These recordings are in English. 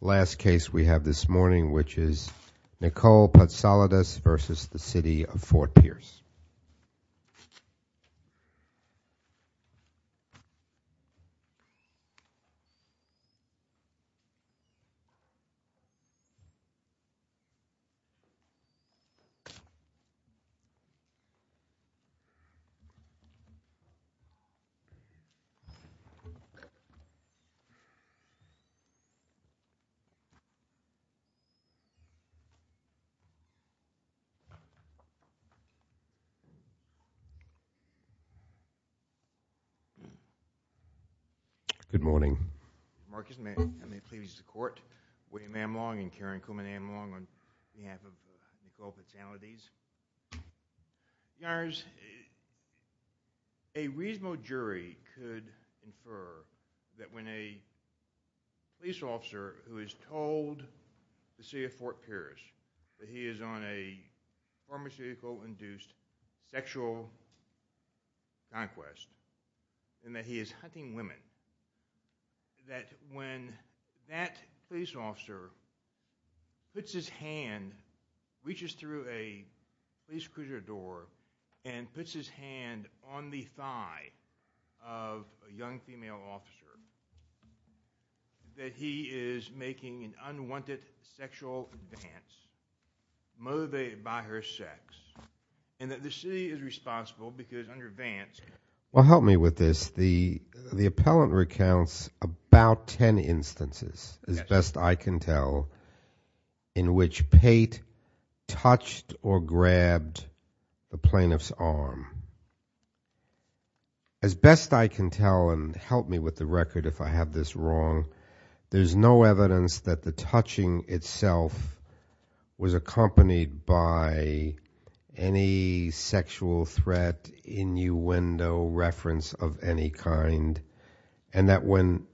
Last case we have this morning which is Nicole Patsalides versus the City of Fort Pierce. Good morning, Marcus, may I make a plea to the court? William M. Long and Karen Kuhlman M. Long on behalf of Nicole Patsalides. Your Honor, a reasonable jury could infer that when a police officer who is told the City of Fort Pierce that he is on a pharmaceutical induced sexual conquest and that he is hunting women, that when that police officer puts his hand, reaches through a police cruiser door and puts his hand on the thigh of a young female officer that he is making an unwanted sexual advance motivated by her sex and that the city is responsible because under advance. Well, help me with this, the appellant recounts about ten instances as best I can tell in which Pate touched or grabbed the plaintiff's arm. As best I can tell and help me with the record if I have this wrong, there's no evidence that the touching itself was accompanied by any sexual threat, innuendo, reference of any kind and that when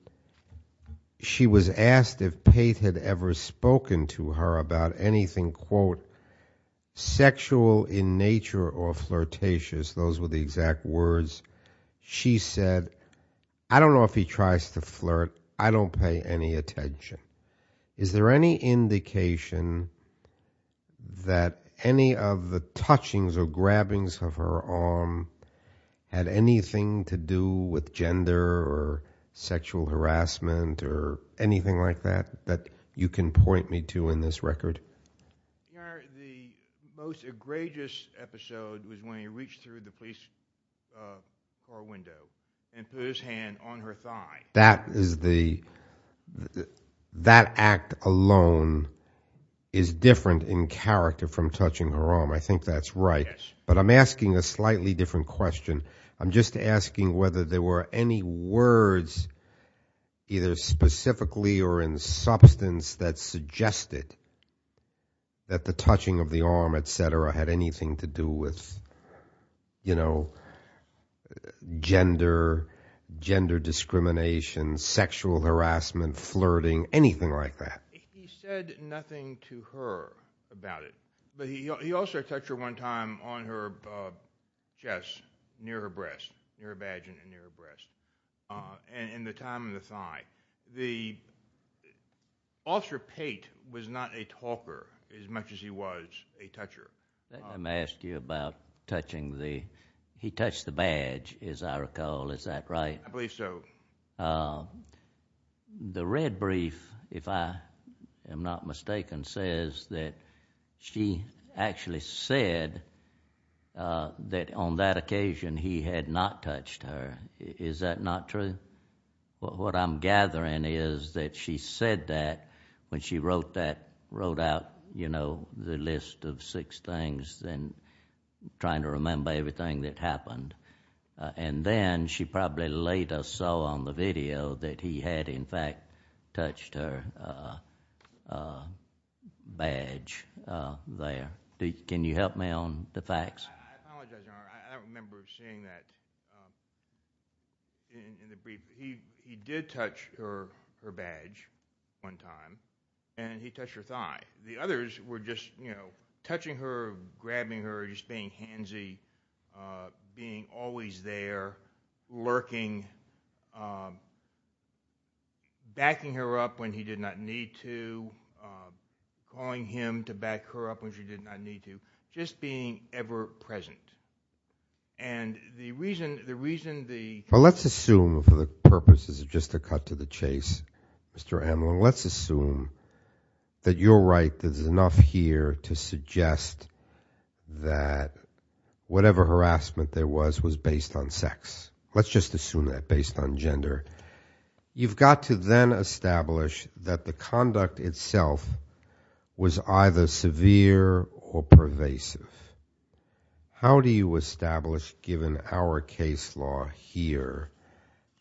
she was asked if Pate had ever spoken to her about anything, quote, sexual in nature or flirtatious, those were the exact words, she said, I don't know if he tries to flirt, I don't pay any attention. Is there any indication that any of the touchings or grabbings of her arm had anything to do with gender or sexual harassment or anything like that, that you can point me to in this record? Your Honor, the most egregious episode was when he reached through the police car window and put his hand on her thigh. That act alone is different in character from touching her arm. I think that's right. But I'm asking a slightly different question. I'm just asking whether there were any words either specifically or in substance that suggested that the touching of the arm, et cetera, had anything to do with, you know, gender, gender discrimination, sexual harassment, flirting, anything like that. He said nothing to her about it, but he also touched her one time on her chest near her breast, near her vagina and near her breast and in the time of the thigh. The, Officer Pate was not a talker as much as he was a toucher. Let me ask you about touching the, he touched the badge as I recall, is that right? I believe so. The red brief, if I am not mistaken, says that she actually said that on that occasion he had not touched her. Is that not true? What I'm gathering is that she said that when she wrote that, wrote out, you know, the list of six things and trying to remember everything that happened. And then she probably later saw on the video that he had in fact touched her badge there. Can you help me on the facts? I apologize, Your Honor. I don't remember seeing that in the brief. He did touch her badge one time and he touched her thigh. The others were just, you know, touching her, grabbing her, just being handsy, being always there, lurking, backing her up when he did not need to, calling him to back her up when she did not need to, just being ever present. And the reason, the reason the Well, let's assume for the purposes of just a cut to the chase, Mr. Amlin, let's assume that you're right. There's enough here to suggest that whatever harassment there was was based on sex. Let's just assume that based on gender. You've got to then establish that the conduct itself was either severe or pervasive. How do you establish, given our case law here,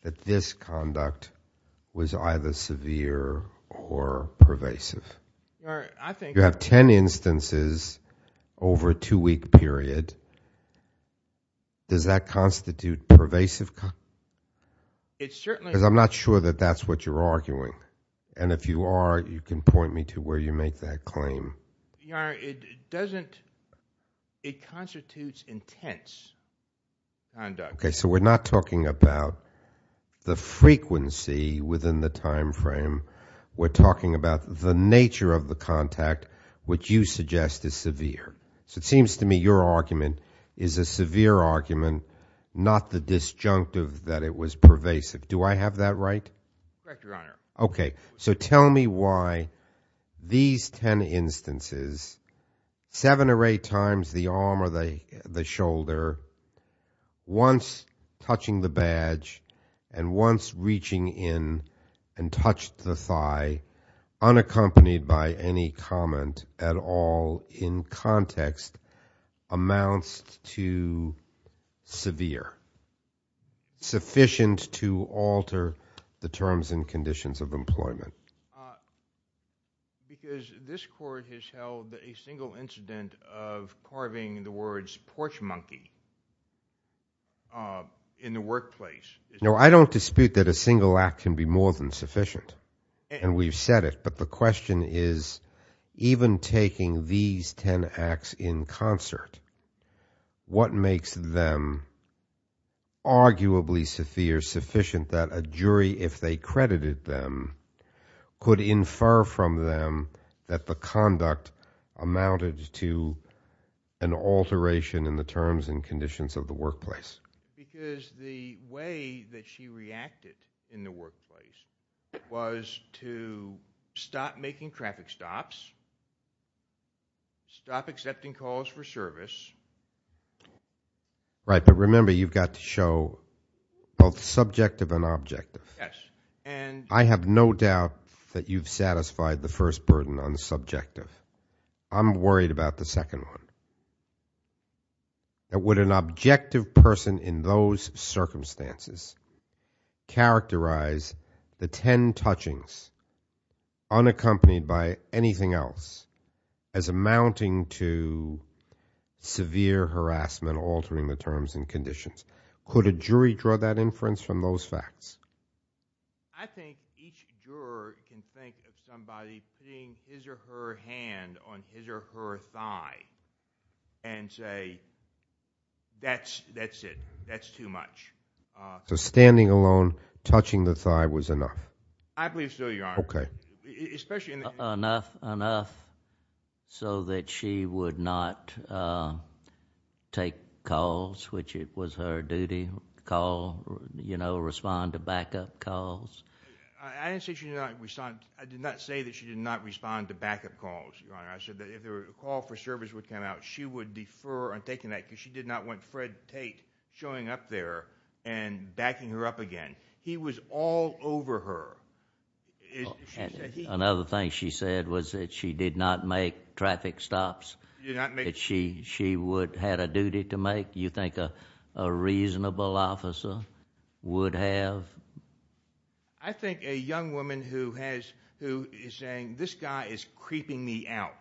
that this conduct was either severe or pervasive? Your Honor, I think You have ten instances over a two-week period. Does that constitute pervasive? It certainly Because I'm not sure that that's what you're arguing. And if you are, you can point me to where you make that claim. Your Honor, it doesn't, it constitutes intense conduct. Okay, so we're not talking about the frequency within the time frame. We're talking about the nature of the contact, which you suggest is severe. So it seems to me your argument is a severe argument, not the disjunctive that it was pervasive. Do I have that right? Correct, Your Honor. Okay, so tell me why these ten instances, seven or eight times the arm or the shoulder, once touching the badge and once reaching in and touched the thigh, unaccompanied by any comment at all in context, amounts to severe, sufficient to alter the terms and conditions of employment? Because this Court has held that a single incident of carving the words porch monkey in the workplace No, I don't dispute that a single act can be more than sufficient. And we've said it. But the question is, even taking these ten acts in concert, what makes them arguably severe, sufficient that a jury, if they credited them, could infer from them that the conduct amounted to an alteration in the terms and conditions of the workplace? Because the way that she reacted in the workplace was to stop making traffic stops, stop accepting calls for service. Right, but remember, you've got to show both subjective and objective. Yes, and I have no doubt that you've satisfied the first burden on the subjective. I'm worried about the second one. Would an objective person in those circumstances characterize the ten touchings, unaccompanied by anything else, as amounting to severe harassment, altering the terms and conditions? Could a jury draw that inference from those facts? I think each juror can think of somebody putting his or her hand on his or her thigh and say, that's it, that's too much. So standing alone, touching the thigh was enough? I believe so, Your Honor. Okay. Enough so that she would not take calls, which was her duty, respond to backup calls? I did not say that she did not respond to backup calls, Your Honor. I said that if a call for service would come out, she would defer on taking that because she did not want Fred Tate showing up there and backing her up again. He was all over her. Another thing she said was that she did not make traffic stops. She would have had a duty to make? You think a reasonable officer would have? I think a young woman who is saying, this guy is creeping me out,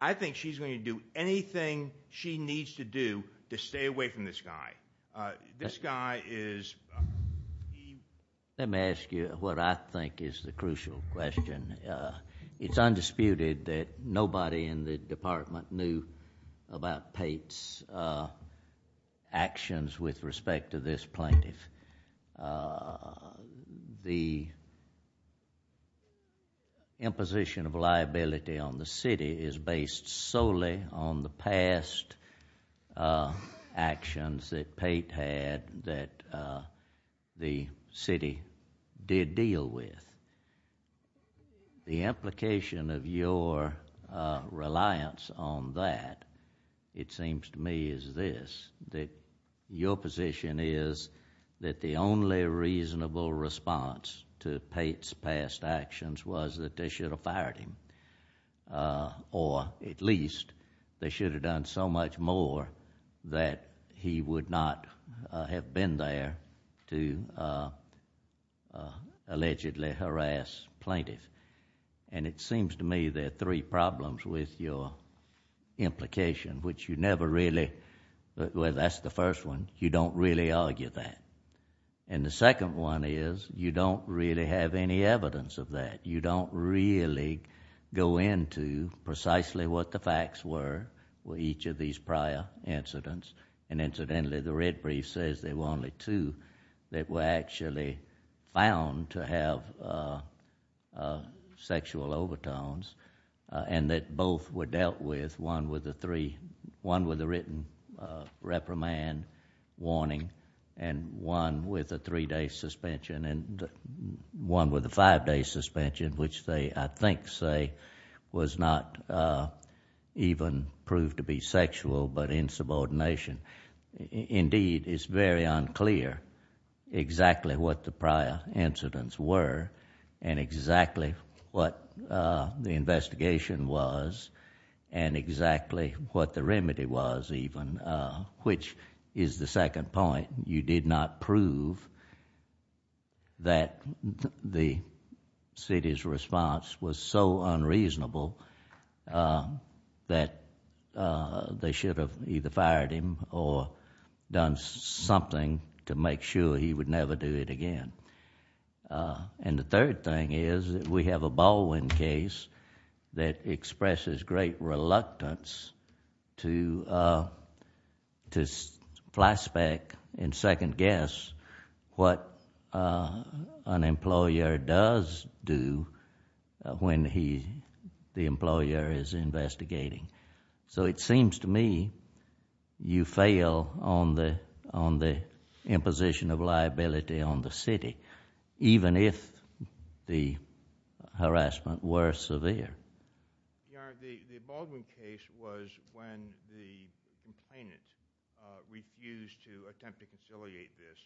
I think she's going to do anything she needs to do to stay away from this guy. This guy is… Let me ask you what I think is the crucial question. It's undisputed that nobody in the department knew about Tate's actions with respect to this plaintiff. The imposition of liability on the city is based solely on the past actions that Tate had and that the city did deal with. The implication of your reliance on that, it seems to me, is this, that your position is that the only reasonable response to Tate's past actions was that they should have fired him, or at least they should have done so much more that he would not have been there to allegedly harass plaintiffs. It seems to me there are three problems with your implication, which you never really, well, that's the first one, you don't really argue that. The second one is you don't really have any evidence of that. You don't really go into precisely what the facts were with each of these prior incidents. Incidentally, the red brief says there were only two that were actually found to have sexual overtones and that both were dealt with, one with a written reprimand warning and one with a three-day suspension and one with a five-day suspension, which they, I think, say was not even proved to be sexual but insubordination. Indeed, it's very unclear exactly what the prior incidents were and exactly what the investigation was and exactly what the remedy was even, which is the second point. You did not prove that the city's response was so unreasonable that they should have either fired him or done something to make sure he would never do it again. The third thing is that we have a Baldwin case that expresses great reluctance to flashback and second guess what an employer does do when the employer is investigating. It seems to me you fail on the imposition of liability on the city, even if the harassment were severe. Your Honor, the Baldwin case was when the complainant refused to attempt to conciliate this.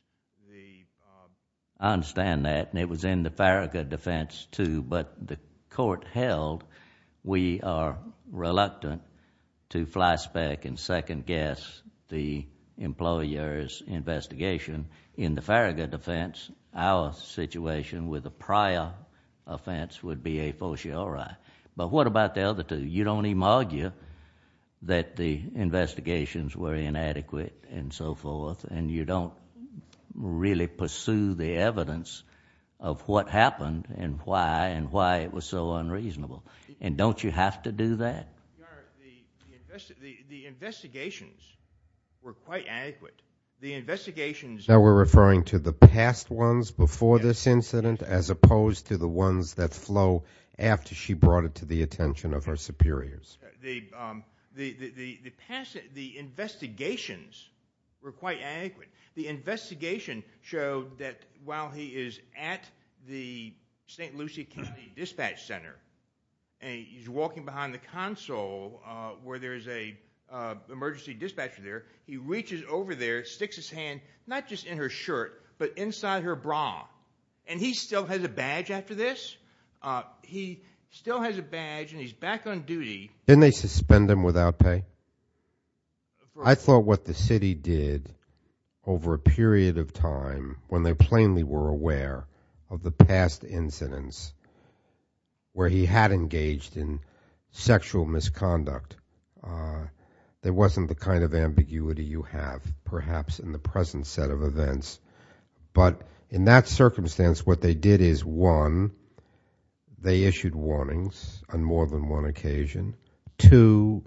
I understand that and it was in the Farragut defense too, but the court held we are reluctant to flashback and second guess the employer's investigation. In the Farragut defense, our situation with the prior offense would be a fortiori. What about the other two? You don't even argue that the investigations were inadequate and so forth and you don't really pursue the evidence of what happened and why and why it was so unreasonable. Don't you have to do that? Your Honor, the investigations were quite adequate. The investigations— Now we're referring to the past ones before this incident as opposed to the ones that flow after she brought it to the attention of her superiors. The investigations were quite adequate. The investigation showed that while he is at the St. Lucie County Dispatch Center and he's walking behind the console where there's an emergency dispatcher there, he reaches over there, sticks his hand not just in her shirt but inside her bra and he still has a badge after this? He still has a badge and he's back on duty. Didn't they suspend him without pay? I thought what the city did over a period of time when they plainly were aware of the past incidents where he had engaged in sexual misconduct, there wasn't the kind of ambiguity you have perhaps in the present set of events, but in that circumstance what they did is, one, they issued warnings on more than one occasion. Two,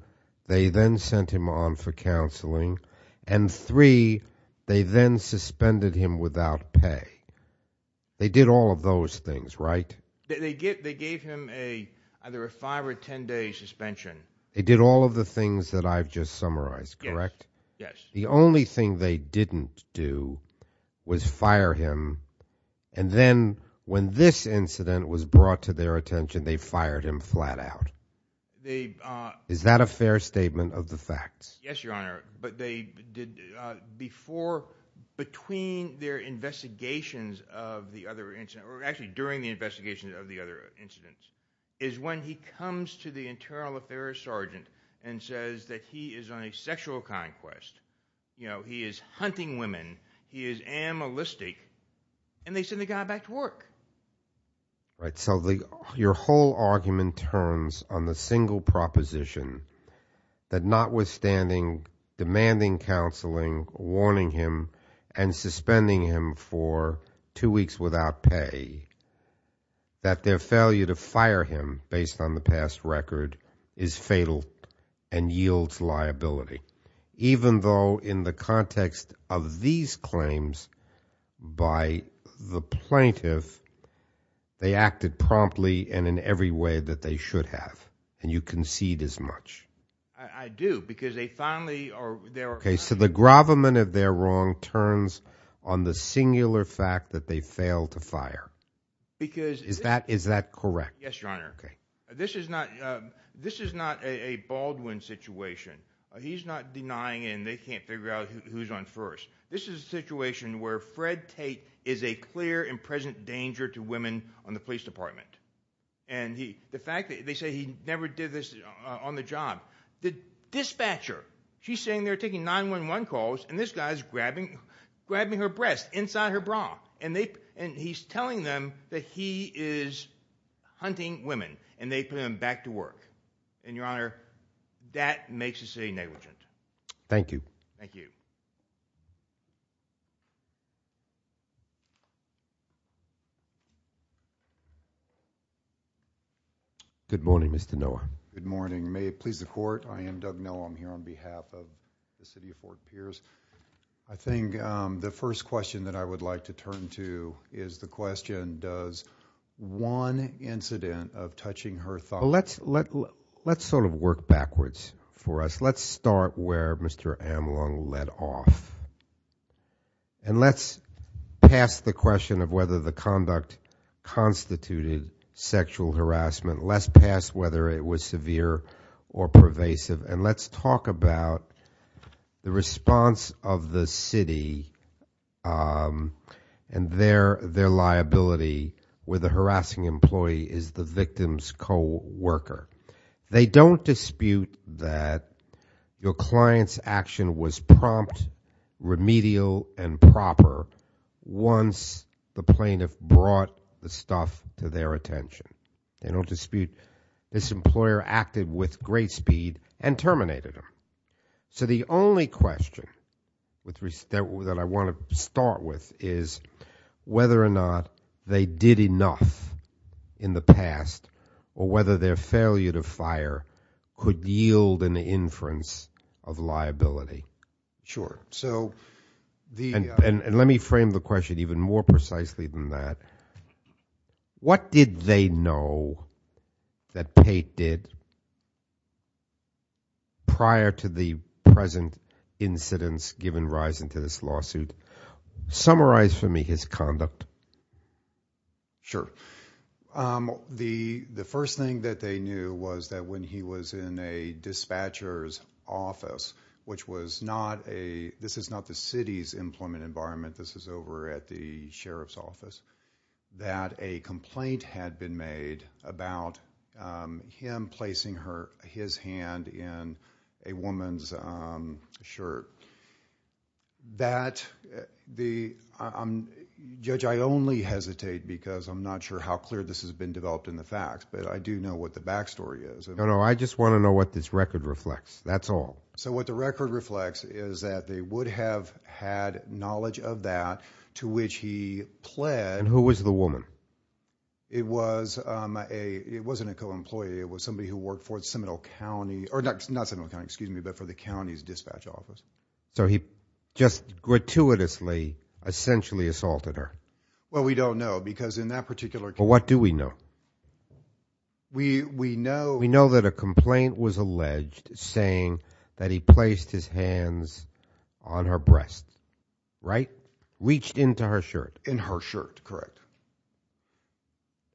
they then sent him on for counseling. And three, they then suspended him without pay. They did all of those things, right? They gave him either a five or ten-day suspension. They did all of the things that I've just summarized, correct? Yes. The only thing they didn't do was fire him and then when this incident was brought to their attention, they fired him flat out. Is that a fair statement of the facts? Yes, Your Honor, but they did before between their investigations of the other incident or actually during the investigation of the other incidents is when he comes to the internal affairs sergeant and says that he is on a sexual conquest. You know, he is hunting women. He is animalistic. And they send the guy back to work. So your whole argument turns on the single proposition that notwithstanding demanding counseling, warning him, and suspending him for two weeks without pay, that their failure to fire him based on the past record is fatal and yields liability. Even though in the context of these claims by the plaintiff, they acted promptly and in every way that they should have and you concede as much. I do because they finally are there. Okay, so the gravamen of their wrong turns on the singular fact that they failed to fire. Is that correct? Yes, Your Honor. Okay. This is not a Baldwin situation. He's not denying and they can't figure out who's on first. This is a situation where Fred Tate is a clear and present danger to women on the police department. And the fact that they say he never did this on the job. The dispatcher, she's saying they're taking 911 calls and this guy is grabbing her breast inside her bra. And he's telling them that he is hunting women and they put him back to work. And, Your Honor, that makes the city negligent. Thank you. Thank you. Good morning, Mr. Noah. Good morning. May it please the court, I am Doug Noah. I'm here on behalf of the city of Fort Pierce. I think the first question that I would like to turn to is the question, does one incident of touching her thigh. Let's sort of work backwards for us. Let's start where Mr. Amlong led off. And let's pass the question of whether the conduct constituted sexual harassment. Let's pass whether it was severe or pervasive. And let's talk about the response of the city and their liability where the harassing employee is the victim's co-worker. They don't dispute that your client's action was prompt, remedial, and proper once the plaintiff brought the stuff to their attention. They don't dispute this employer acted with great speed and terminated him. So the only question that I want to start with is whether or not they did enough in the past or whether their failure to fire could yield an inference of liability. Sure. And let me frame the question even more precisely than that. What did they know that Tate did prior to the present incidents given rise into this lawsuit? Summarize for me his conduct. Sure. The first thing that they knew was that when he was in a dispatcher's office, which this is not the city's employment environment, this is over at the sheriff's office, that a complaint had been made about him placing his hand in a woman's shirt. Judge, I only hesitate because I'm not sure how clear this has been developed in the facts, but I do know what the backstory is. No, no, I just want to know what this record reflects. That's all. So what the record reflects is that they would have had knowledge of that to which he pled. And who was the woman? It wasn't a co-employee. It was somebody who worked for Seminole County, or not Seminole County, excuse me, but for the county's dispatch office. So he just gratuitously essentially assaulted her. Well, we don't know because in that particular case. Well, what do we know? We know that a complaint was alleged saying that he placed his hands on her breast, right? Reached into her shirt. In her shirt, correct.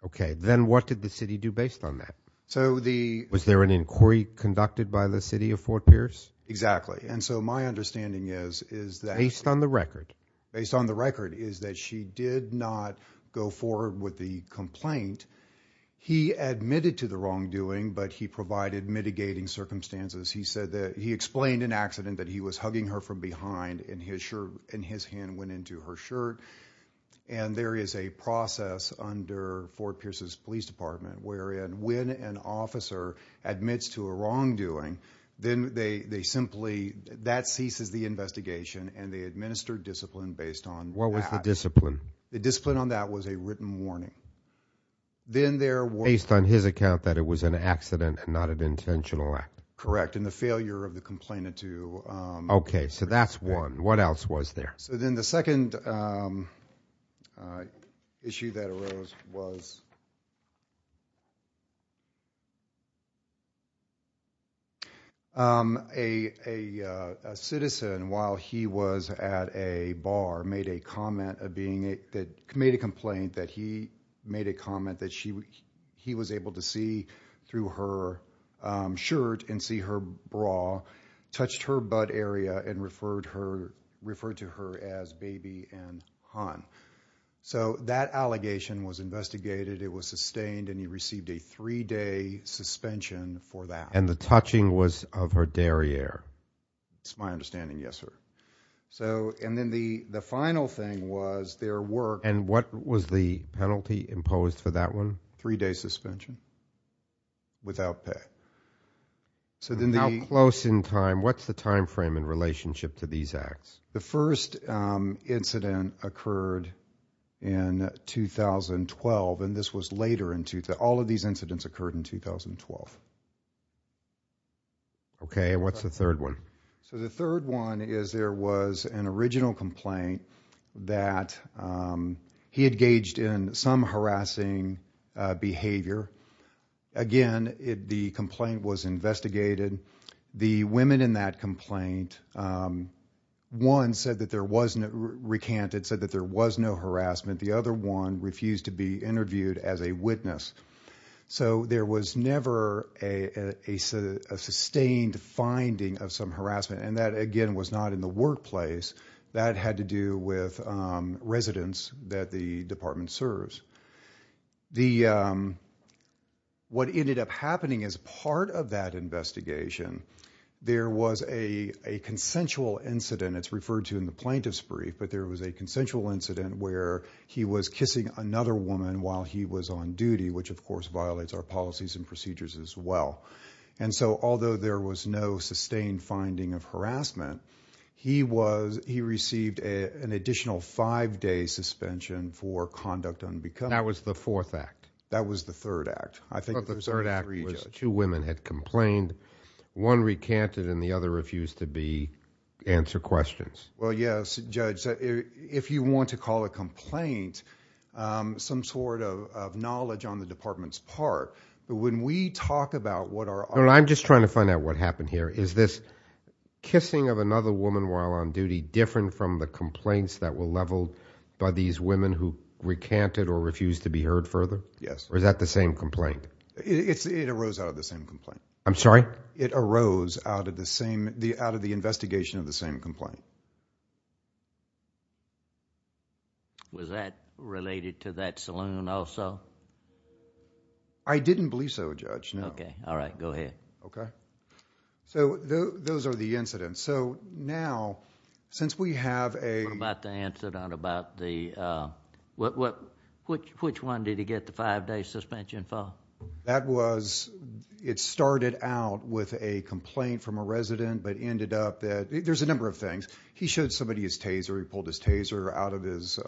Okay. Then what did the city do based on that? So the. Was there an inquiry conducted by the city of Fort Pierce? Exactly. And so my understanding is that. Based on the record. Based on the record is that she did not go forward with the complaint. He admitted to the wrongdoing, but he provided mitigating circumstances. He said that he explained an accident that he was hugging her from behind in his shirt. And his hand went into her shirt. And there is a process under Fort Pierce's police department. When an officer admits to a wrongdoing, then they simply. That ceases the investigation and they administer discipline based on. What was the discipline? The discipline on that was a written warning. Then there were. Based on his account that it was an accident and not an intentional act. Correct. And the failure of the complainant to. Okay. So that's one. What else was there? So then the second. Issue that arose was. A. A citizen, while he was at a bar, made a comment of being. That made a complaint that he made a comment that she. He was able to see through her. Shirt and see her bra. Touched her butt area and referred her. Referred to her as baby and Han. So that allegation was investigated. It was sustained and he received a three day suspension for that. And the touching was of her derriere. It's my understanding. Yes, sir. So, and then the, the final thing was their work. And what was the penalty imposed for that one? Three day suspension. Without pay. So then the. Close in time. What's the timeframe in relationship to these acts? The first incident occurred. In 2012. And this was later in two to all of these incidents occurred in 2012. Okay. And what's the third one? So the third one is there was an original complaint. That. He had gauged in some harassing. Behavior. Again, it, the complaint was investigated. The women in that complaint. One said that there wasn't recanted said that there was no harassment. The other one refused to be interviewed as a witness. So there was never a. A sustained finding of some harassment. And that, again, was not in the workplace. That had to do with residents that the department serves. The. What ended up happening is part of that investigation. There was a, a consensual incident. It's referred to in the plaintiff's brief. But there was a consensual incident where he was kissing another woman while he was on duty, which of course violates our policies and procedures as well. And so, although there was no sustained finding of harassment. He was, he received a, an additional five day suspension for conduct on because that was the fourth act. That was the third act. I think the third act was two women had complained. One recanted and the other refused to be. Answer questions. Well, yes, judge. If you want to call a complaint. Some sort of, of knowledge on the department's part. But when we talk about what are. I'm just trying to find out what happened here. Is this. Kissing of another woman while on duty different from the complaints that were leveled by these women who recanted or refused to be heard further? Yes. Or is that the same complaint? It's, it arose out of the same complaint. I'm sorry. It arose out of the same, the, out of the investigation of the same complaint. Was that related to that saloon also? I didn't believe so judge. No. Okay. All right. Go ahead. Okay. So those are the incidents. So now, since we have a. About the incident, about the, what, what, which, which one did he get the five day suspension for? That was, it started out with a complaint from a resident, but ended up that there's a number of things. He showed somebody his taser. He pulled his taser out of his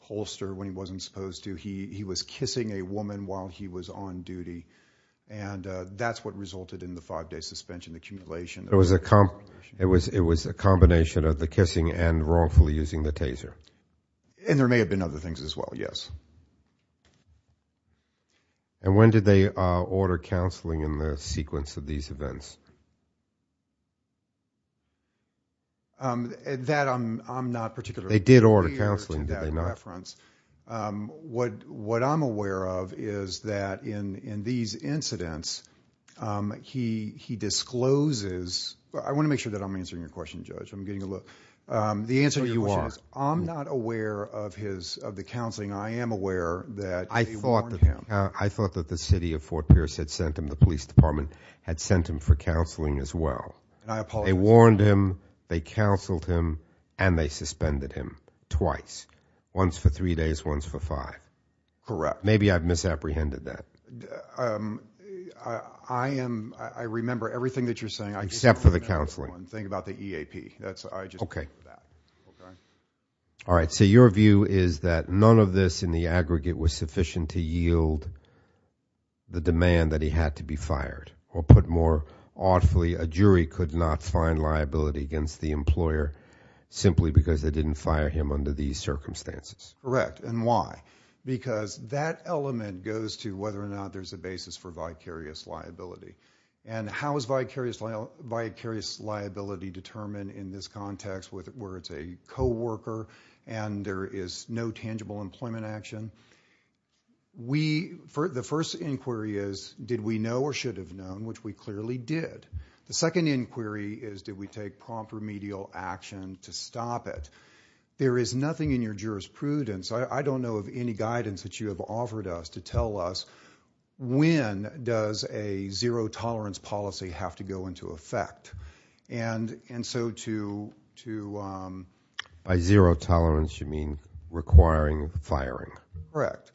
holster when he wasn't supposed to. He, he was kissing a woman while he was on duty. And that's what resulted in the five day suspension, the accumulation. It was a comp, it was, it was a combination of the kissing and wrongfully using the taser. And there may have been other things as well. Yes. And when did they order counseling in the sequence of these events? That I'm, I'm not particularly. They did order counseling, did they not? What, what I'm aware of is that in, in these incidents, he, he discloses. I want to make sure that I'm answering your question, judge. I'm getting a look. The answer to your question is I'm not aware of his, of the counseling. I am aware that. I thought that, I thought that the city of Fort Pierce had sent him. The police department had sent him for counseling as well. And I apologize. They warned him, they counseled him and they suspended him twice. Once for three days, once for five. Correct. Maybe I've misapprehended that. I am, I remember everything that you're saying. Except for the counseling. Think about the EAP. That's, I just. Okay. Okay. All right. So your view is that none of this in the aggregate was sufficient to yield the demand that he had to be fired. Or put more awfully, a jury could not find liability against the employer simply because they didn't fire him under these circumstances. Correct. And why? Because that element goes to whether or not there's a basis for vicarious liability. And how is vicarious liability determined in this context where it's a co-worker and there is no tangible employment action? We, the first inquiry is did we know or should have known, which we clearly did. The second inquiry is did we take prompt remedial action to stop it? There is nothing in your jurisprudence. I don't know of any guidance that you have offered us to tell us when does a zero-tolerance policy have to go into effect. And so to. By zero-tolerance you mean requiring firing. Correct.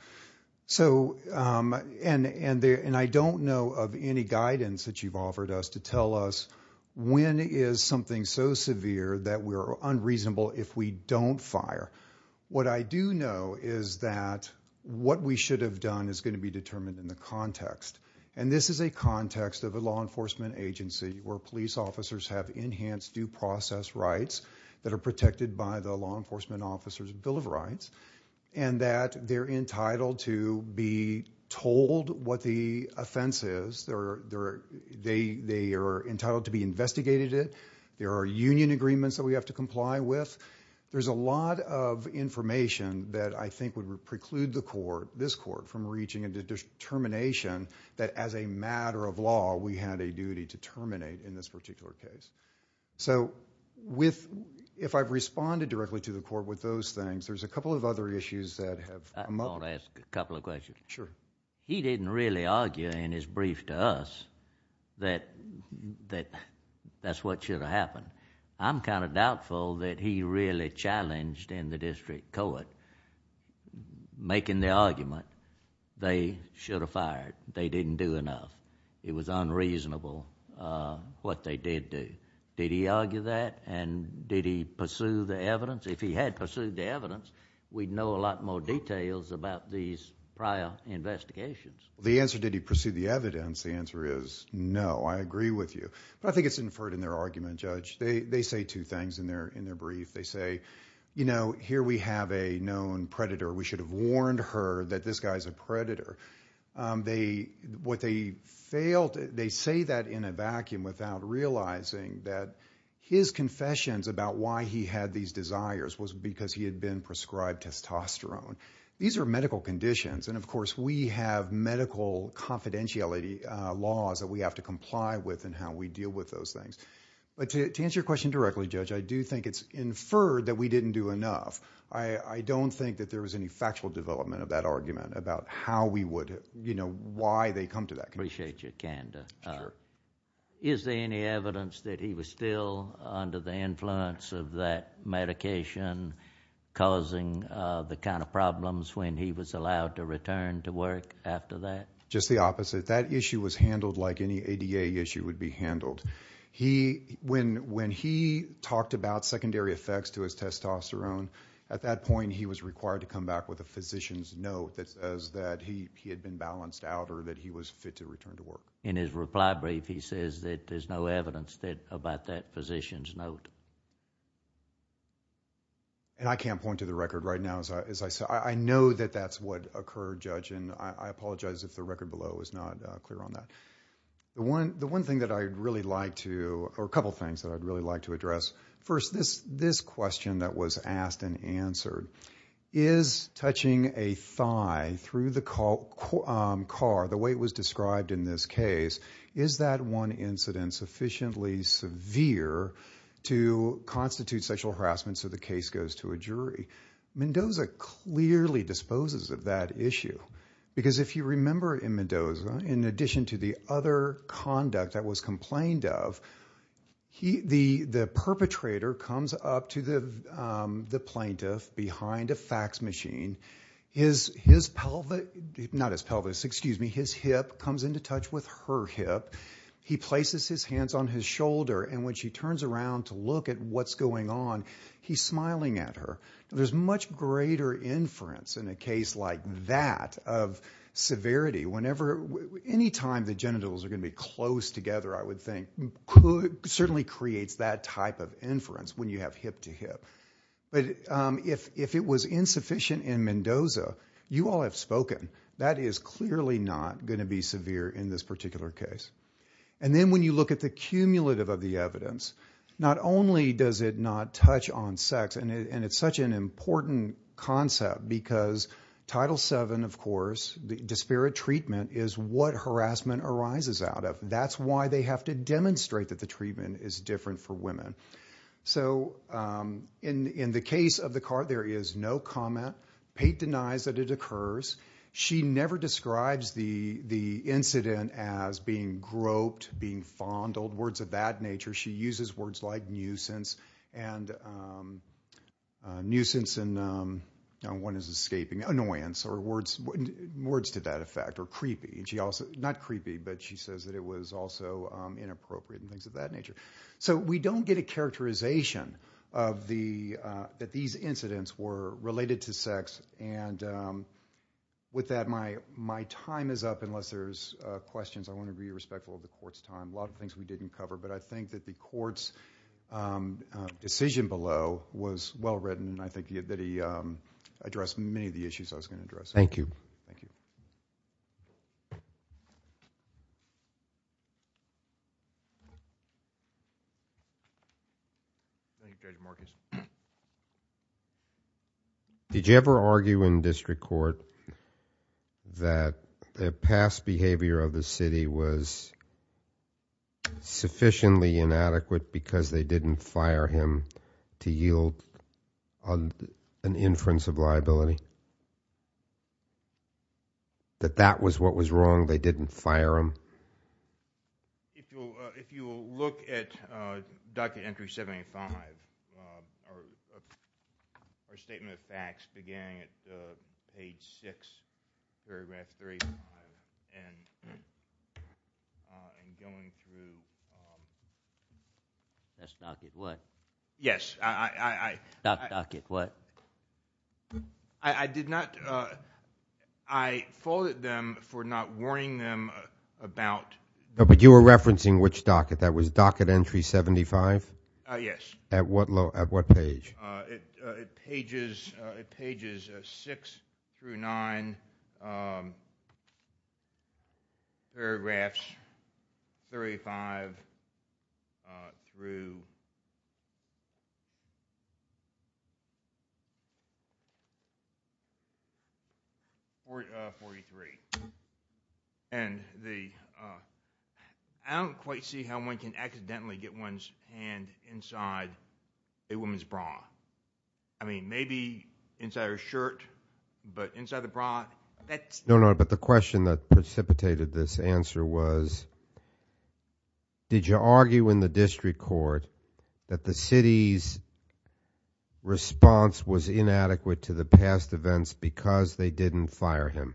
And I don't know of any guidance that you've offered us to tell us when is something so severe that we're unreasonable if we don't fire. What I do know is that what we should have done is going to be determined in the context. And this is a context of a law enforcement agency where police officers have enhanced due process rights that are protected by the Law Enforcement Officers' Bill of Rights and that they're entitled to be told what the offense is. They are entitled to be investigated. There are union agreements that we have to comply with. There's a lot of information that I think would preclude the court, this court, from reaching a determination that as a matter of law we had a duty to terminate in this particular case. So if I've responded directly to the court with those things, there's a couple of other issues that have come up. I want to ask a couple of questions. Sure. He didn't really argue in his brief to us that that's what should have happened. I'm kind of doubtful that he really challenged in the district court making the argument they should have fired. They didn't do enough. It was unreasonable what they did do. Did he argue that and did he pursue the evidence? If he had pursued the evidence, we'd know a lot more details about these prior investigations. The answer, did he pursue the evidence, the answer is no. I agree with you. But I think it's inferred in their argument, Judge. They say two things in their brief. They say, you know, here we have a known predator. We should have warned her that this guy's a predator. They say that in a vacuum without realizing that his confessions about why he had these desires was because he had been prescribed testosterone. These are medical conditions. And, of course, we have medical confidentiality laws that we have to comply with and how we deal with those things. But to answer your question directly, Judge, I do think it's inferred that we didn't do enough. I don't think that there was any factual development of that argument about how we would... you know, why they come to that conclusion. Appreciate you, Kanda. Sure. Is there any evidence that he was still under the influence of that medication causing the kind of problems when he was allowed to return to work after that? Just the opposite. That issue was handled like any ADA issue would be handled. When he talked about secondary effects to his testosterone, at that point he was required to come back with a physician's note that says that he had been balanced out or that he was fit to return to work. In his reply brief, he says that there's no evidence about that physician's note. I can't point to the record right now. I know that that's what occurred, Judge, and I apologize if the record below is not clear on that. The one thing that I'd really like to... or a couple of things that I'd really like to address. Is touching a thigh through the car, the way it was described in this case, is that one incident sufficiently severe to constitute sexual harassment so the case goes to a jury? Mendoza clearly disposes of that issue because if you remember in Mendoza, in addition to the other conduct that was complained of, the perpetrator comes up to the plaintiff behind a fax machine. His hip comes into touch with her hip. He places his hands on his shoulder, and when she turns around to look at what's going on, he's smiling at her. There's much greater inference in a case like that of severity. Anytime the genitals are going to be close together, I would think, certainly creates that type of inference when you have hip-to-hip. But if it was insufficient in Mendoza, you all have spoken, that is clearly not going to be severe in this particular case. And then when you look at the cumulative of the evidence, not only does it not touch on sex, and it's such an important concept, because Title VII, of course, disparate treatment is what harassment arises out of. That's why they have to demonstrate that the treatment is different for women. So in the case of the car, there is no comment. Pate denies that it occurs. She never describes the incident as being groped, being fondled, words of that nature. She uses words like nuisance and one is escaping, annoyance, or words to that effect, or creepy. Not creepy, but she says that it was also inappropriate and things of that nature. So we don't get a characterization that these incidents were related to sex. And with that, my time is up, unless there's questions. I want to be respectful of the court's time. There's a lot of things we didn't cover, but I think that the court's decision below was well-written and I think that he addressed many of the issues I was going to address. Thank you. Thank you. Did you ever argue in district court that the past behavior of the city was sufficiently inadequate because they didn't fire him to yield an inference of liability? That that was what was wrong, they didn't fire him? If you will look at docket entry 785, our statement of facts beginning at page 6, paragraph 385 and going through. That's docket what? Yes. Docket what? I did not, I faulted them for not warning them about. But you were referencing which docket, that was docket entry 75? Yes. At what page? It pages 6 through 9, paragraphs 35 through 43. I don't quite see how one can accidentally get one's hand inside a woman's bra. I mean, maybe inside her shirt, but inside the bra? No, no, but the question that precipitated this answer was did you argue in the district court that the city's response was inadequate to the past events because they didn't fire him?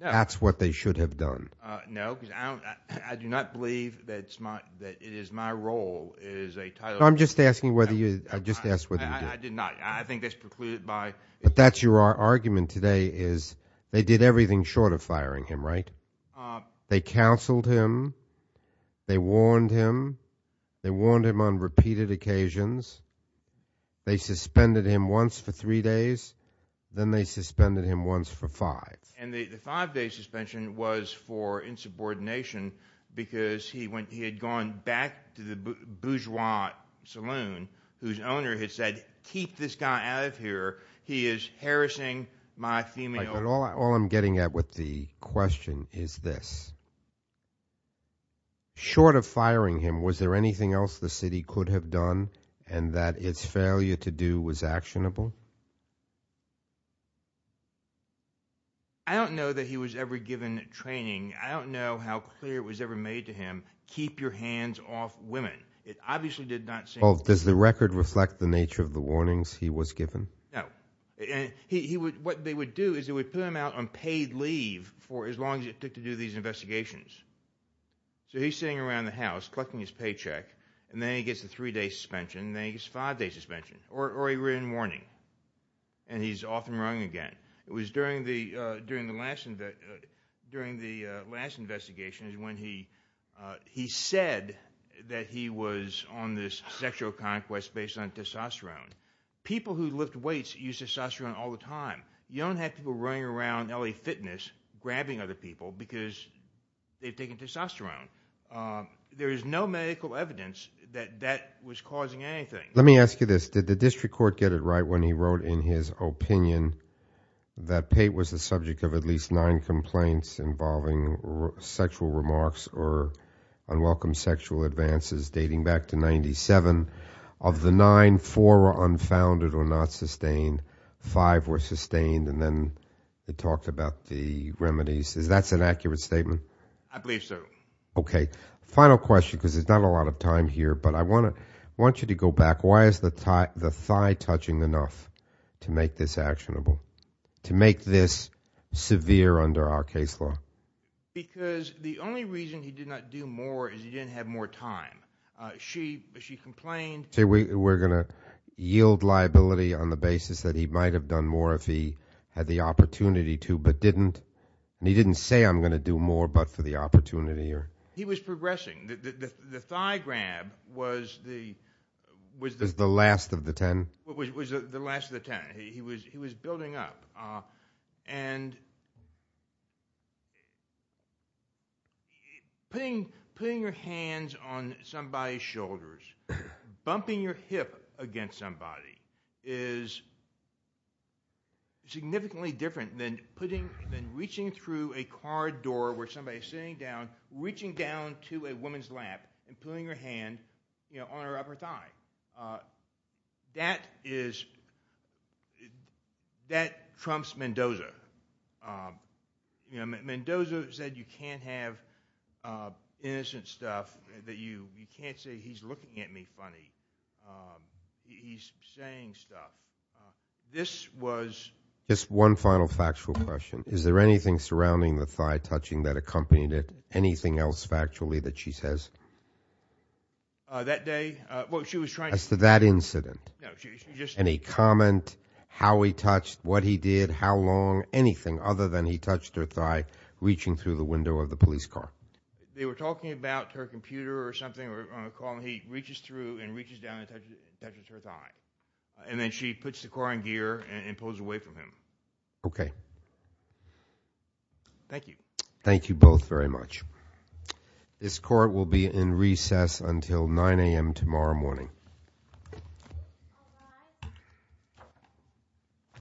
No. That's what they should have done. No, because I do not believe that it is my role, it is a title. I'm just asking whether you, I just asked whether you did. I did not, I think that's precluded by. But that's your argument today is they did everything short of firing him, right? They counseled him, they warned him, they warned him on repeated occasions, they suspended him once for three days, then they suspended him once for five. And the five day suspension was for insubordination because he had gone back to the bourgeois saloon whose owner had said keep this guy out of here, he is harassing my female. All I'm getting at with the question is this. Short of firing him, was there anything else the city could have done and that its failure to do was actionable? I don't know that he was ever given training. I don't know how clear it was ever made to him, keep your hands off women. It obviously did not seem. Does the record reflect the nature of the warnings he was given? No. And what they would do is they would put him out on paid leave for as long as it took to do these investigations. So he's sitting around the house collecting his paycheck and then he gets the three day suspension and then he gets five day suspension or a written warning and he's off and running again. It was during the last investigation when he said that he was on this sexual conquest based on testosterone. People who lift weights use testosterone all the time. You don't have people running around LA Fitness grabbing other people because they've taken testosterone. There is no medical evidence that that was causing anything. Let me ask you this. Did the district court get it right when he wrote in his opinion that Pate was the subject of at least nine complaints involving sexual remarks or unwelcome sexual advances dating back to 1997? Of the nine, four were unfounded or not sustained, five were sustained, and then they talked about the remedies. Is that an accurate statement? I believe so. Okay. Final question because there's not a lot of time here, but I want you to go back. Why is the thigh touching enough to make this actionable, to make this severe under our case law? Because the only reason he did not do more is he didn't have more time. She complained. We're going to yield liability on the basis that he might have done more if he had the opportunity to but didn't, and he didn't say I'm going to do more but for the opportunity. He was progressing. The thigh grab was the last of the ten. It was the last of the ten. He was building up. Putting your hands on somebody's shoulders, bumping your hip against somebody is significantly different than reaching through a car door where somebody is sitting down, reaching down to a woman's lap and putting your hand on her upper thigh. That trumps Mendoza. Mendoza said you can't have innocent stuff. You can't say he's looking at me funny. He's saying stuff. Just one final factual question. Is there anything surrounding the thigh touching that accompanied it, anything else factually that she says? That day? As to that incident? No. Any comment, how he touched, what he did, how long, anything other than he touched her thigh reaching through the window of the police car? They were talking about her computer or something. He reaches through and reaches down and touches her thigh, and then she puts the car in gear and pulls away from him. Okay. Thank you. Thank you both very much. This court will be in recess until 9 a.m. tomorrow morning.